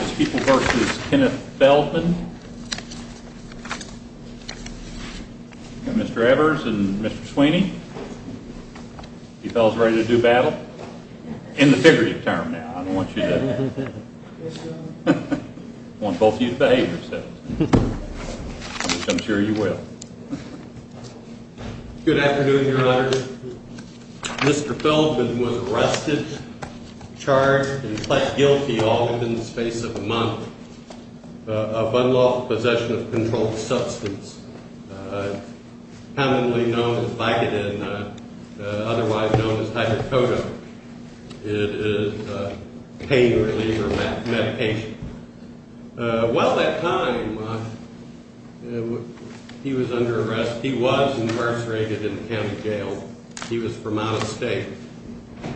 Mr. Feldman and Mr. Evers and Mr. Sweeney, you fellas ready to do battle? In the figurative term now, I don't want you to... I want both of you to behave yourselves. I'm sure you will. Good afternoon, Your Honor. Mr. Feldman was arrested, charged, and pled guilty all within the space of a month of unlawful possession of a controlled substance. Commonly known as Vicodin, otherwise known as hydrocodone. It is a pain reliever medication. While that time, he was under arrest. He was incarcerated in the county jail. He was from out of state.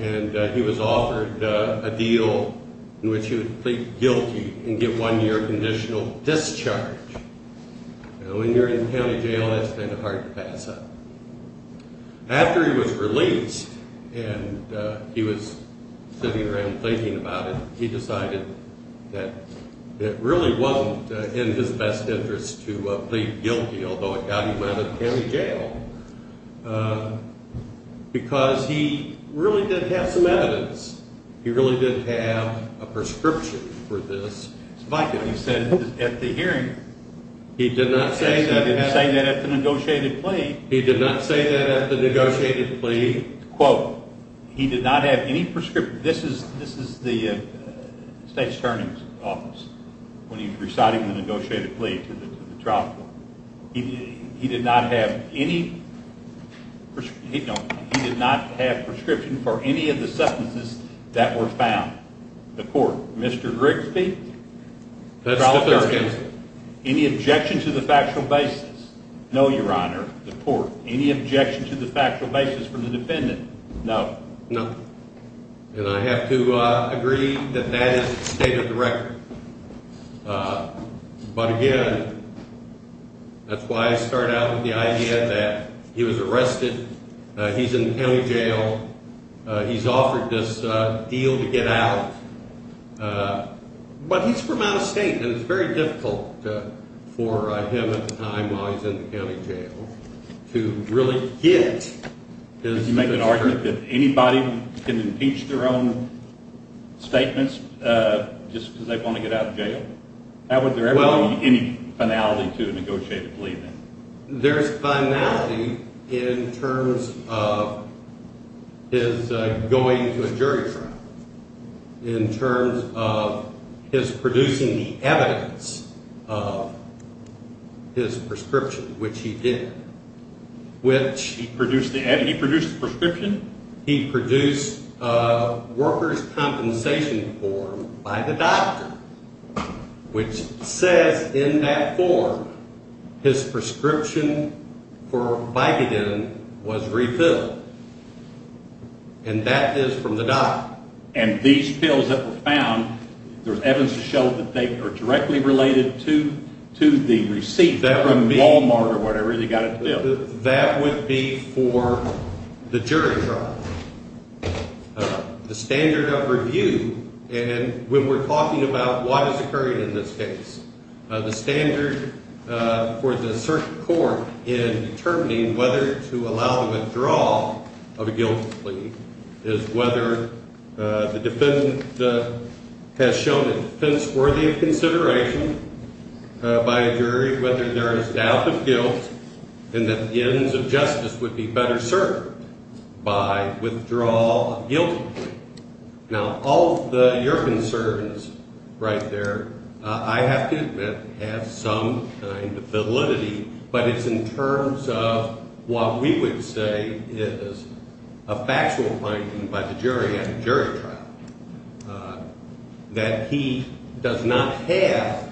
And he was offered a deal in which he would plead guilty and get one year of conditional discharge. When you're in county jail, that's kind of hard to pass up. After he was released and he was sitting around thinking about it, he decided that it really wasn't in his best interest to plead guilty, although it got him out of county jail, because he really did have some evidence. He really did have a prescription for this. He said at the hearing. He did not say that. He did not say that at the negotiated plea. Quote, he did not have any prescription. This is the state's attorney's office when he's reciting the negotiated plea to the trial court. He did not have any prescription for any of the substances that were found. The court, Mr. Grigsby, trial attorney. Any objection to the factual basis? No, Your Honor. The court, any objection to the factual basis from the defendant? No. No. And I have to agree that that is state of the record. But again, that's why I start out with the idea that he was arrested. He's in county jail. He's offered this deal to get out. But he's from out of state, and it's very difficult for him at the time, while he's in the county jail, to really get his district. Would you make an argument that anybody can impeach their own statements just because they want to get out of jail? Would there ever be any finality to a negotiated plea? There's finality in terms of his going to a jury trial, in terms of his producing the evidence of his prescription, which he did. He produced the evidence? He produced the prescription? He produced a worker's compensation form by the doctor, which says in that form his prescription for Vicodin was refilled. And that is from the doctor. And these pills that were found, there's evidence to show that they are directly related to the receipt from Wal-Mart or whatever they got it from? That would be for the jury trial. The standard of review, and when we're talking about what is occurring in this case, the standard for the circuit court in determining whether to allow the withdrawal of a guilty plea is whether the defendant has shown a defense worthy of consideration by a jury, whether there is doubt of guilt, and that the ends of justice would be better served by withdrawal of guilty plea. Now, all of your concerns right there, I have to admit, have some kind of validity, but it's in terms of what we would say is a factual finding by the jury at a jury trial, that he does not have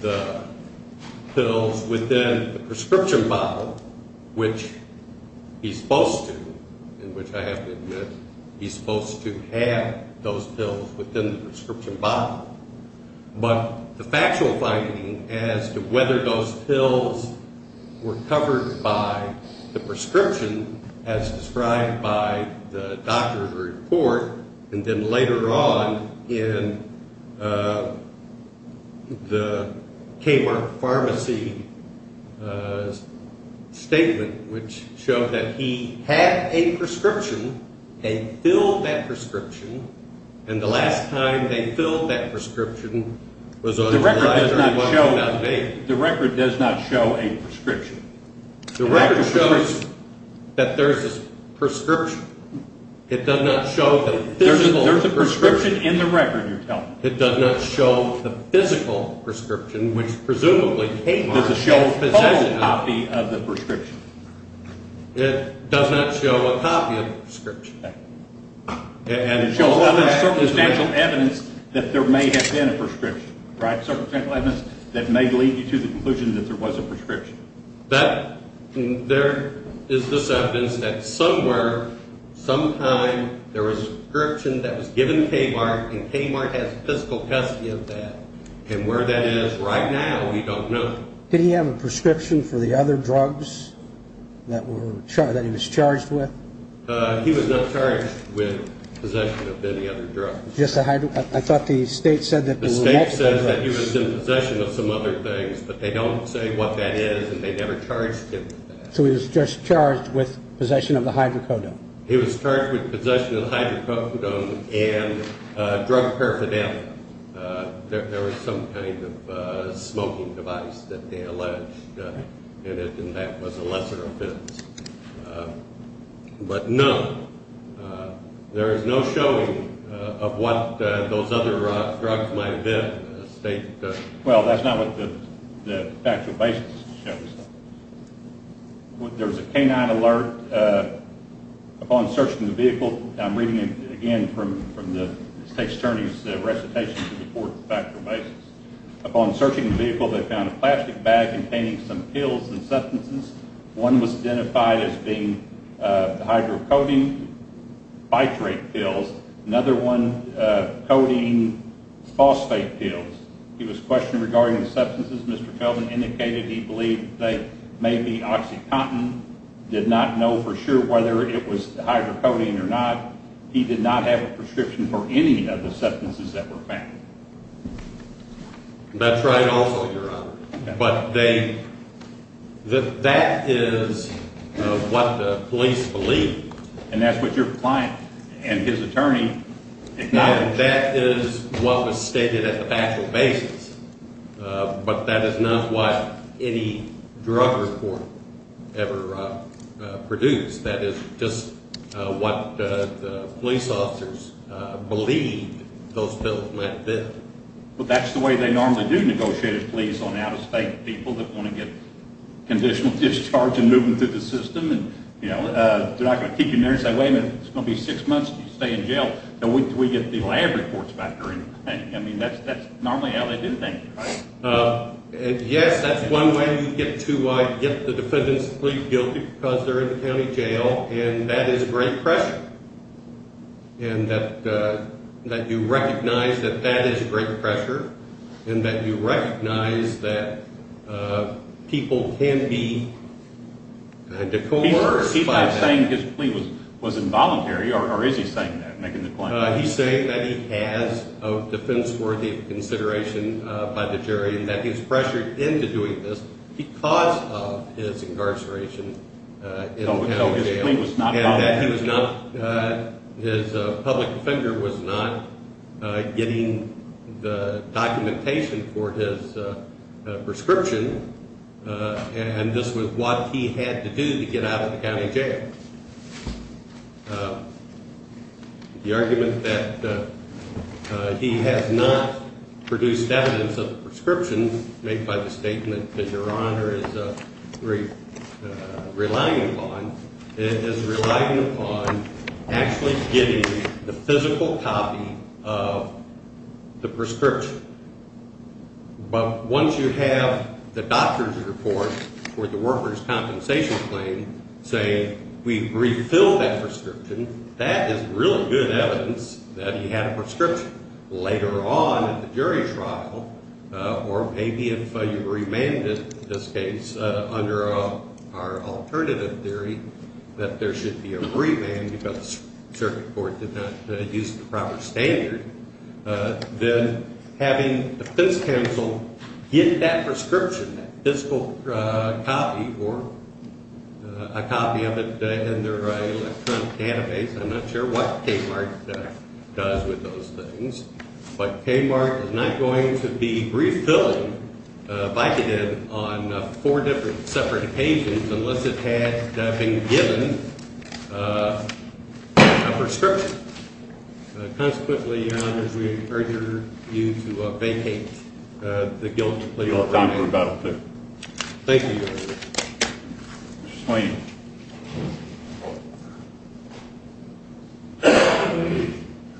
the pills within the prescription bottle, which he's supposed to, and which I have to admit he's supposed to have those pills within the prescription bottle. But the factual finding as to whether those pills were covered by the prescription as described by the doctor's report and then later on in the Kmart Pharmacy's statement, which showed that he had a prescription, had filled that prescription, and the last time they filled that prescription was on July 31, 2008. The record does not show a prescription. The record shows that there's a prescription. It does not show the physical prescription. There's a prescription in the record you're telling me. It does not show the physical prescription, which presumably Kmart possesses. It does not show a copy of the prescription. It does not show a copy of the prescription. And it shows circumstantial evidence that there may have been a prescription, right, that there is this evidence that somewhere, sometime, there was a prescription that was given Kmart, and Kmart has physical custody of that. And where that is right now, we don't know. Did he have a prescription for the other drugs that he was charged with? He was not charged with possession of any other drugs. I thought the state said that there were multiple drugs. The state says that he was in possession of some other things, but they don't say what that is and they never charged him with that. So he was just charged with possession of the hydrocodone. He was charged with possession of the hydrocodone and drug paraphernalia. There was some kind of smoking device that they alleged in it, and that was a lesser offense. But, no, there is no showing of what those other drugs might have been. Well, that's not what the factual basis shows. There was a canine alert upon searching the vehicle. I'm reading it again from the state's attorney's recitation to the court factual basis. Upon searching the vehicle, they found a plastic bag containing some pills and substances. One was identified as being hydrocodone phytrate pills. Another one, codeine phosphate pills. He was questioned regarding the substances. Mr. Feldman indicated he believed they may be oxycontin. Did not know for sure whether it was hydrocodone or not. He did not have a prescription for any of the substances that were found. That's right also, Your Honor. But that is what the police believe. And that's what your client and his attorney acknowledge. That is what was stated at the factual basis. But that is not what any drug report ever produced. That is just what the police officers believed those pills might have been. But that's the way they normally do negotiate with police on out-of-state people that want to get conditional discharge and move them through the system. They're not going to keep them there and say, wait a minute, it's going to be six months and you stay in jail. No, we get the lab reports back during that time. I mean, that's normally how they do things, right? Yes, that's one way you get the defendants to plead guilty because they're in the county jail. And that is great pressure. And that you recognize that that is great pressure. And that you recognize that people can be decouraged by that. He's not saying his plea was involuntary, or is he saying that? He's saying that he has a defense-worthy consideration by the jury and that he's pressured into doing this because of his incarceration in the county jail. No, his plea was not voluntary. And that his public defender was not getting the documentation for his prescription. And this was what he had to do to get out of the county jail. The argument that he has not produced evidence of the prescription made by the statement that Your Honor is relying upon is relying upon actually getting the physical copy of the prescription. But once you have the doctor's report for the worker's compensation claim saying we've refilled that prescription, that is really good evidence that he had a prescription. But later on in the jury trial, or maybe if you remanded this case under our alternative theory that there should be a remand because the circuit court did not use the proper standard, then having the defense counsel get that prescription, that physical copy, or a copy of it in their electronic database. I'm not sure what Kmart does with those things. But Kmart is not going to be refilling Vicodin on four different separate occasions unless it had been given a prescription. Consequently, Your Honor, we urge you to vacate the guilty plea. Your time for rebuttal, please. Thank you, Your Honor. Mr. Swaney.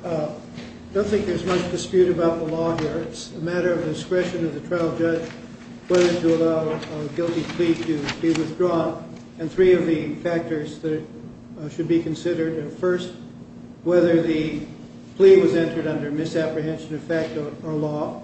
I don't think there's much dispute about the law here. It's a matter of discretion of the trial judge whether to allow a guilty plea to be withdrawn. And three of the factors that should be considered are, first, whether the plea was entered under misapprehension effect or law.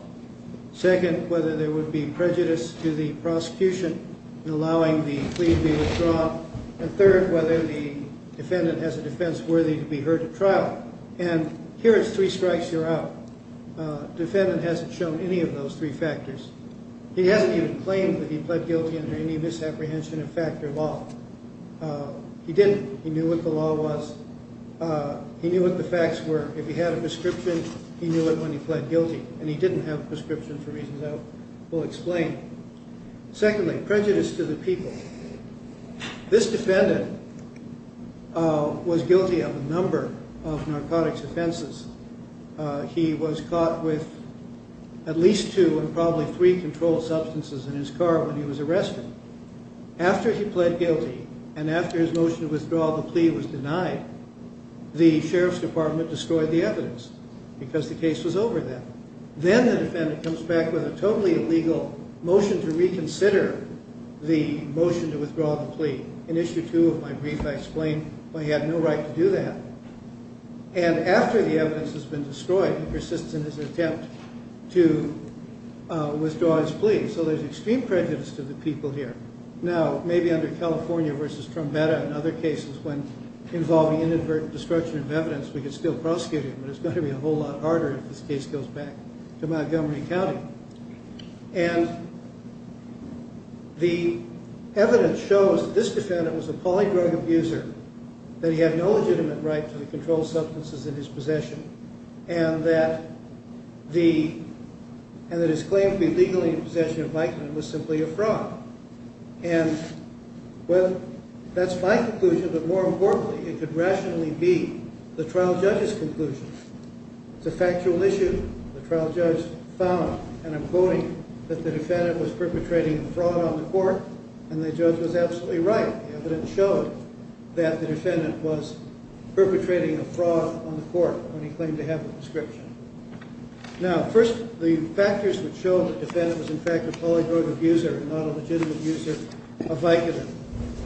Second, whether there would be prejudice to the prosecution in allowing the plea to be withdrawn. And third, whether the defendant has a defense worthy to be heard at trial. And here it's three strikes, you're out. The defendant hasn't shown any of those three factors. He hasn't even claimed that he pled guilty under any misapprehension effect or law. He didn't. He knew what the law was. He knew what the facts were. If he had a prescription, he knew it when he pled guilty. And he didn't have a prescription for reasons I will explain. Secondly, prejudice to the people. This defendant was guilty of a number of narcotics offenses. He was caught with at least two and probably three controlled substances in his car when he was arrested. After he pled guilty and after his motion to withdraw the plea was denied, the sheriff's department destroyed the evidence because the case was over then. Then the defendant comes back with a totally illegal motion to reconsider the motion to withdraw the plea. In issue two of my brief, I explain why he had no right to do that. And after the evidence has been destroyed, he persists in his attempt to withdraw his plea. So there's extreme prejudice to the people here. Now, maybe under California versus Trombetta and other cases when involving inadvertent destruction of evidence, we could still prosecute him, but it's going to be a whole lot harder if this case goes back to Montgomery County. And the evidence shows that this defendant was a poly-drug abuser, that he had no legitimate right to the controlled substances in his possession, and that his claim to be legally in possession of Mikeman was simply a fraud. And that's my conclusion, but more importantly, it could rationally be the trial judge's conclusion. It's a factual issue. The trial judge found, and I'm quoting, that the defendant was perpetrating a fraud on the court, and the judge was absolutely right. The evidence showed that the defendant was perpetrating a fraud on the court when he claimed to have a prescription. Now, first, the factors which show the defendant was, in fact, a poly-drug abuser and not a legitimate user of Vicodin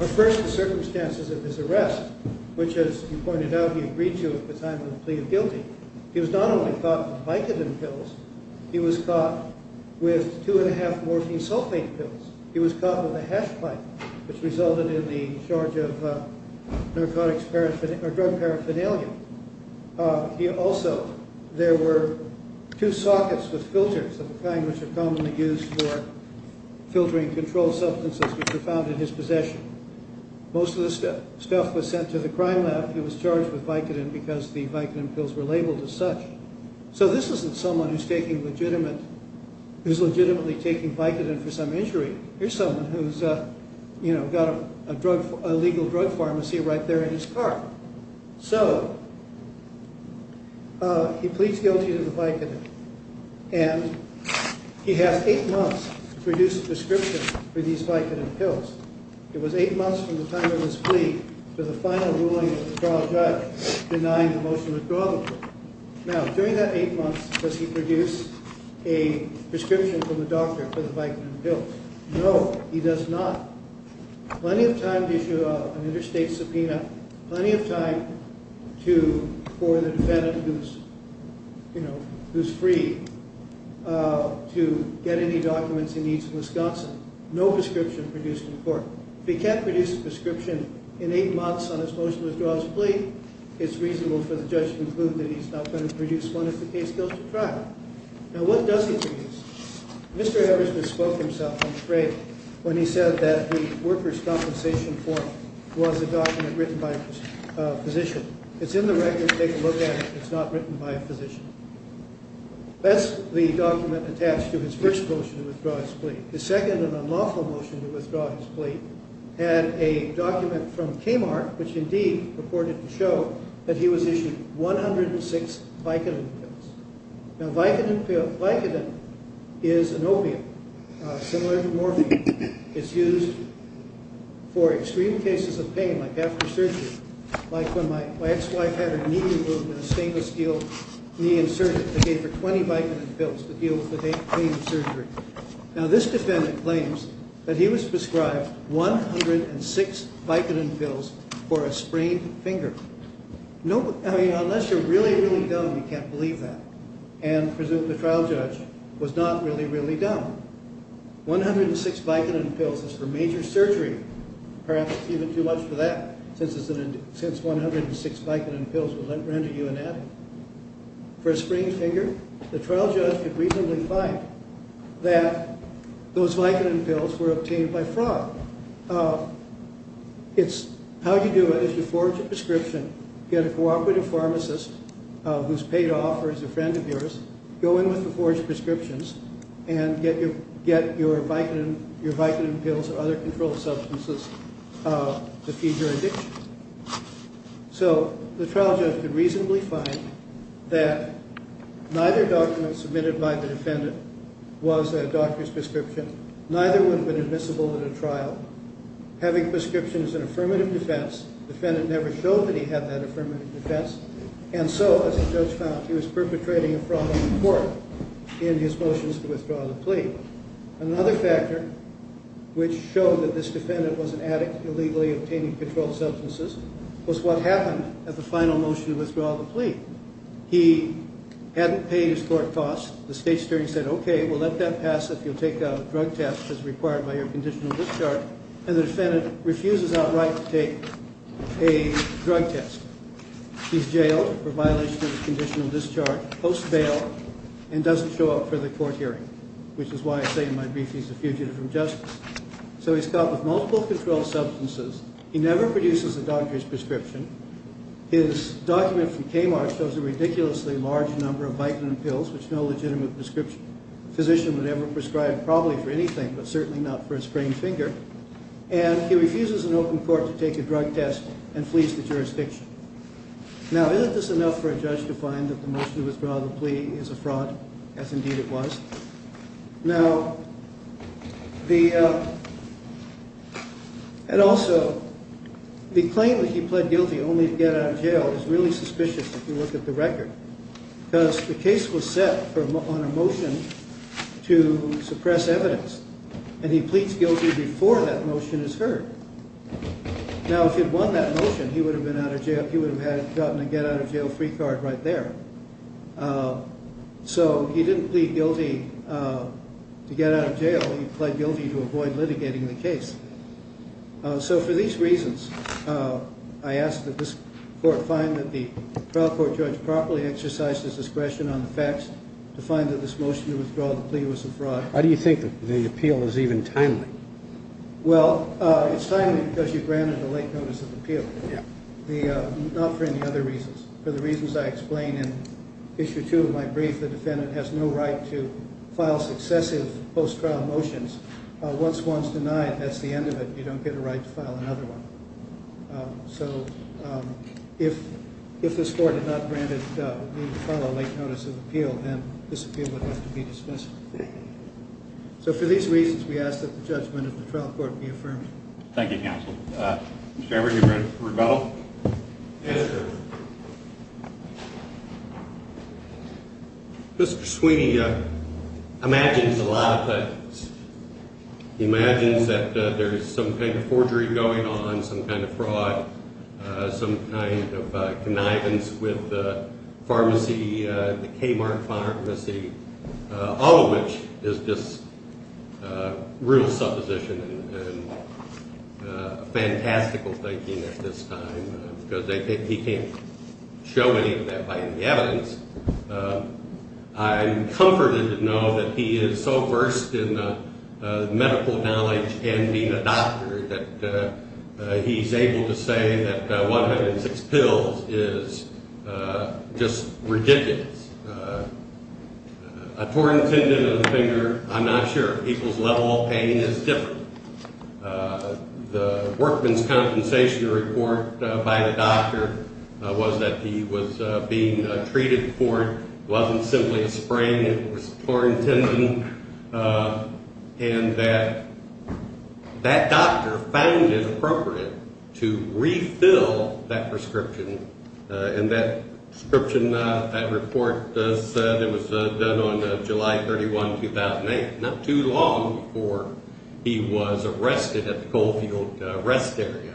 are, first, the circumstances of his arrest, which, as you pointed out, he agreed to at the time of the plea of guilty. He was not only caught with Vicodin pills. He was caught with two-and-a-half morphine sulfate pills. He was caught with a hash pipe, which resulted in the charge of drug paraphernalia. Also, there were two sockets with filters of the kind which are commonly used for filtering controlled substances, which were found in his possession. Most of this stuff was sent to the crime lab. He was charged with Vicodin because the Vicodin pills were labeled as such. So this isn't someone who's legitimately taking Vicodin for some injury. Here's someone who's got a legal drug pharmacy right there in his car. So he pleads guilty to the Vicodin, and he has eight months to produce a prescription for these Vicodin pills. It was eight months from the time of his plea to the final ruling of the trial judge denying the motion of withdrawal. Now, during that eight months, does he produce a prescription from the doctor for the Vicodin pills? No, he does not. Plenty of time to issue an interstate subpoena. Plenty of time for the defendant, who's free, to get any documents he needs from Wisconsin. No prescription produced in court. If he can't produce a prescription in eight months on his motion to withdraw his plea, it's reasonable for the judge to conclude that he's not going to produce one if the case goes to trial. Now, what does he produce? Mr. Eversmith spoke himself on trade when he said that the workers' compensation form was a document written by a physician. It's in the record to take a look at if it's not written by a physician. His second and unlawful motion to withdraw his plea had a document from K-Mark, which indeed purported to show that he was issued 106 Vicodin pills. Now, Vicodin is an opiate similar to morphine. It's used for extreme cases of pain, like after surgery, like when my ex-wife had her knee removed and a stainless steel knee insertion. They gave her 20 Vicodin pills to deal with the pain of surgery. Now, this defendant claims that he was prescribed 106 Vicodin pills for a sprained finger. I mean, unless you're really, really dumb, you can't believe that and presume the trial judge was not really, really dumb. 106 Vicodin pills is for major surgery, perhaps even too much for that, since 106 Vicodin pills would render you an addict. For a sprained finger, the trial judge could reasonably find that those Vicodin pills were obtained by fraud. It's how you do it is you forge a prescription, get a cooperative pharmacist, who's paid off or is a friend of yours, go in with the forged prescriptions and get your Vicodin pills or other controlled substances to feed your addiction. So the trial judge could reasonably find that neither document submitted by the defendant was a doctor's prescription. Neither would have been admissible in a trial. Having prescriptions is an affirmative defense. The defendant never showed that he had that affirmative defense. And so, as the judge found, he was perpetrating a fraud on the court in his motions to withdraw the plea. Another factor which showed that this defendant was an addict illegally obtaining controlled substances was what happened at the final motion to withdraw the plea. He hadn't paid his court costs. The state's jury said, okay, we'll let that pass if you'll take a drug test as required by your conditional discharge. And the defendant refuses outright to take a drug test. He's jailed for violation of his conditional discharge, post-bail, and doesn't show up for the court hearing, which is why I say in my brief he's a fugitive from justice. So he's caught with multiple controlled substances. He never produces a doctor's prescription. His document from Kmart shows a ridiculously large number of Vicodin pills, which no legitimate physician would ever prescribe, probably for anything, but certainly not for a sprained finger. And he refuses an open court to take a drug test and flees the jurisdiction. Now, isn't this enough for a judge to find that the motion to withdraw the plea is a fraud, as indeed it was? Now, the claim that he pled guilty only to get out of jail is really suspicious if you look at the record, because the case was set on a motion to suppress evidence, and he pleads guilty before that motion is heard. Now, if he had won that motion, he would have gotten a get-out-of-jail-free card right there. So he didn't plead guilty to get out of jail. He pled guilty to avoid litigating the case. So for these reasons, I ask that this court find that the trial court judge properly exercised his discretion on the facts to find that this motion to withdraw the plea was a fraud. How do you think the appeal is even timely? Well, it's timely because you granted a late notice of appeal, not for any other reasons. For the reasons I explain in Issue 2 of my brief, the defendant has no right to file successive post-trial motions. Once one's denied, that's the end of it. You don't get a right to file another one. So if this court had not granted the need to file a late notice of appeal, then this appeal would have to be dismissed. So for these reasons, we ask that the judgment of the trial court be affirmed. Thank you, counsel. Mr. Everett, are you ready for rebuttal? Yes, sir. Mr. Sweeney imagines a lot of things. He imagines that there's some kind of forgery going on, some kind of fraud, some kind of connivance with the pharmacy, the Kmart pharmacy. All of which is just real supposition and fantastical thinking at this time because he can't show any of that by any evidence. I'm comforted to know that he is so versed in medical knowledge and being a doctor that he's able to say that 106 pills is just ridiculous. A torn tendon in the finger, I'm not sure. People's level of pain is different. The workman's compensation report by the doctor was that he was being treated for it. It wasn't simply a sprain. It was a torn tendon. And that doctor found it appropriate to refill that prescription. And that prescription, that report, it was done on July 31, 2008. Not too long before he was arrested at the Coalfield rest area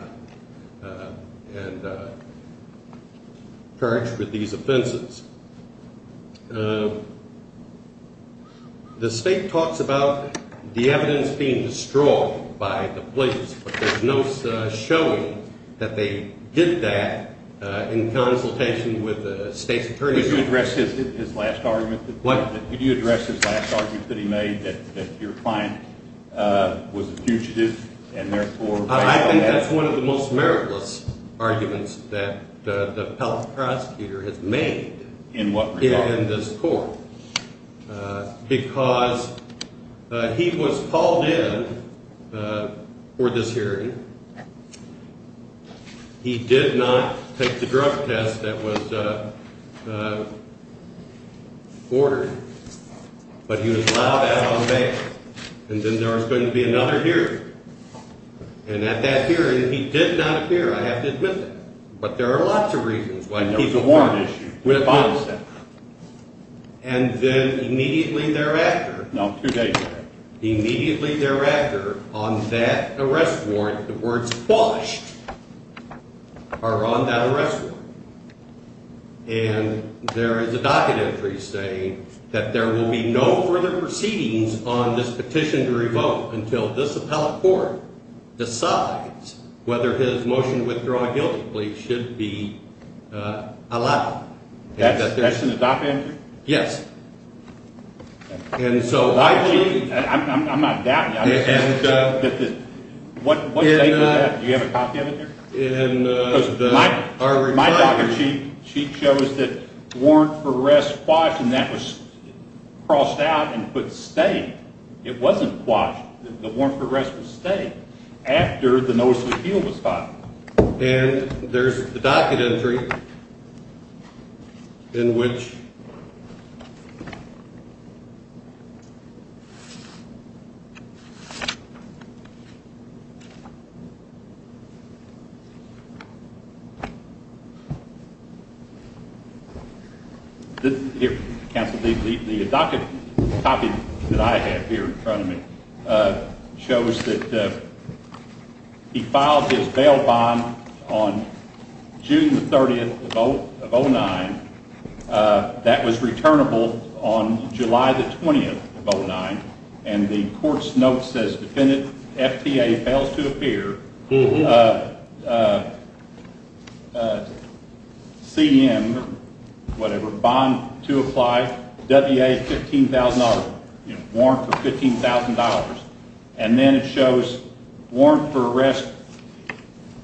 and charged with these offenses. The state talks about the evidence being destroyed by the police, but there's no showing that they did that in consultation with the state's attorney. Could you address his last argument? What? Could you address his last argument that he made, that your client was a fugitive and therefore filed that? I think that's one of the most meritless arguments that the appellate prosecutor has made in this court. Because he was called in for this hearing. He did not take the drug test that was ordered, but he was allowed out on bail. And then there was going to be another hearing. And at that hearing, he did not appear. I have to admit that. But there are lots of reasons why he didn't appear. And there was a warrant issue. And then immediately thereafter. No, two days later. Immediately thereafter, on that arrest warrant, the words, until this appellate court decides whether his motion to withdraw guilty plea should be allowed. That's in the document? Yes. I'm not doubting that. Do you have a copy of it here? My docket sheet shows that warrant for arrest quashed and that was crossed out and put stay. It wasn't quashed. The warrant for arrest was stay after the notice of appeal was filed. And there's the docket entry in which. Here, counsel, the docket copy that I have here in front of me shows that he filed his bail bond on June the 30th of 2009. That was returnable on July the 20th of 2009. And the court's note says, defendant, FTA, fails to appear. CM, whatever, bond to apply, WA $15,000. Warrant for $15,000. And then it shows warrant for arrest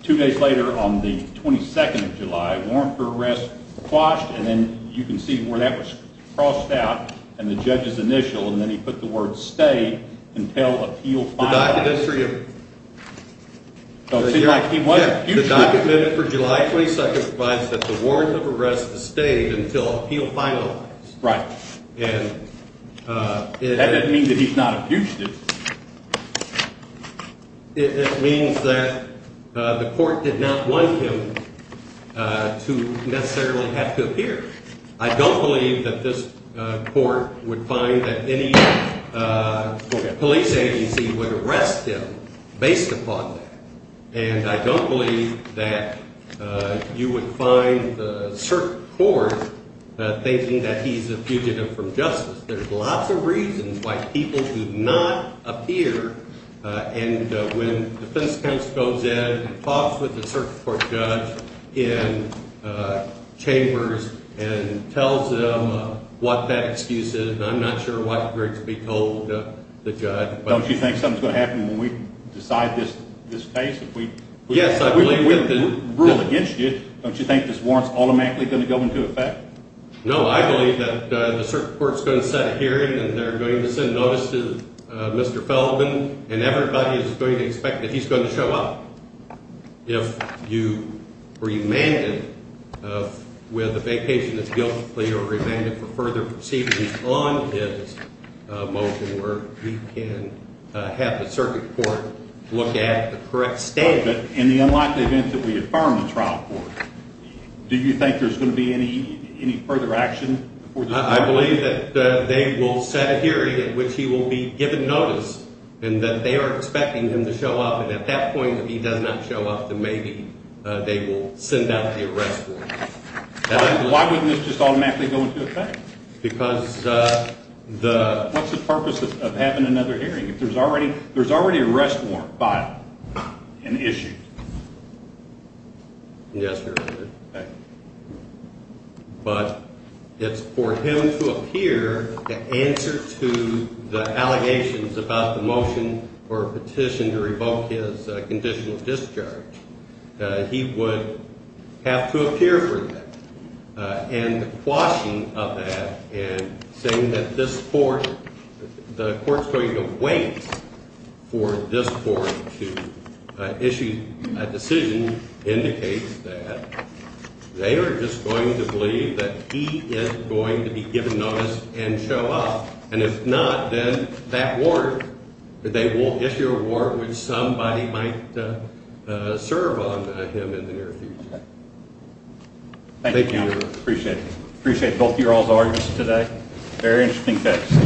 two days later on the 22nd of July. Warrant for arrest quashed, and then you can see where that was crossed out and the judge's initial, and then he put the word stay until appeal finalized. The docket entry of. The docket for July 22nd provides that the warrant of arrest is stayed until appeal finalized. Right. And that doesn't mean that he's not a fugitive. It means that the court did not want him to necessarily have to appear. I don't believe that this court would find that any police agency would arrest him based upon that. And I don't believe that you would find the circuit court thinking that he's a fugitive from justice. There's lots of reasons why people do not appear. And when defense counsel goes in and talks with the circuit court judge in chambers and tells them what that excuse is, I'm not sure why it's great to be told the judge. Don't you think something's going to happen when we decide this case? Yes, I believe that. If we rule against you, don't you think this warrant's automatically going to go into effect? No, I believe that the circuit court's going to set a hearing and they're going to send notice to Mr. Feldman, and everybody is going to expect that he's going to show up. If you remand him with a vacation that's guilt-free or remand him for further proceedings on his motion, we can have the circuit court look at the correct statement. In the unlikely event that we affirm the trial court, do you think there's going to be any further action? I believe that they will set a hearing in which he will be given notice and that they are expecting him to show up. At that point, if he does not show up, then maybe they will send out the arrest warrant. Why wouldn't this just automatically go into effect? Because the— What's the purpose of having another hearing if there's already an arrest warrant by an issue? Yes, Your Honor. Okay. But it's for him to appear to answer to the allegations about the motion or petition to revoke his conditional discharge. He would have to appear for that. And the quashing of that and saying that this court—the court's going to wait for this court to issue a decision indicates that they are just going to believe that he is going to be given notice and show up. And if not, then that warrant—they will issue a warrant which somebody might serve on him in the near future. Thank you, Your Honor. Appreciate it. Appreciate both of you all's arguments today. Very interesting case.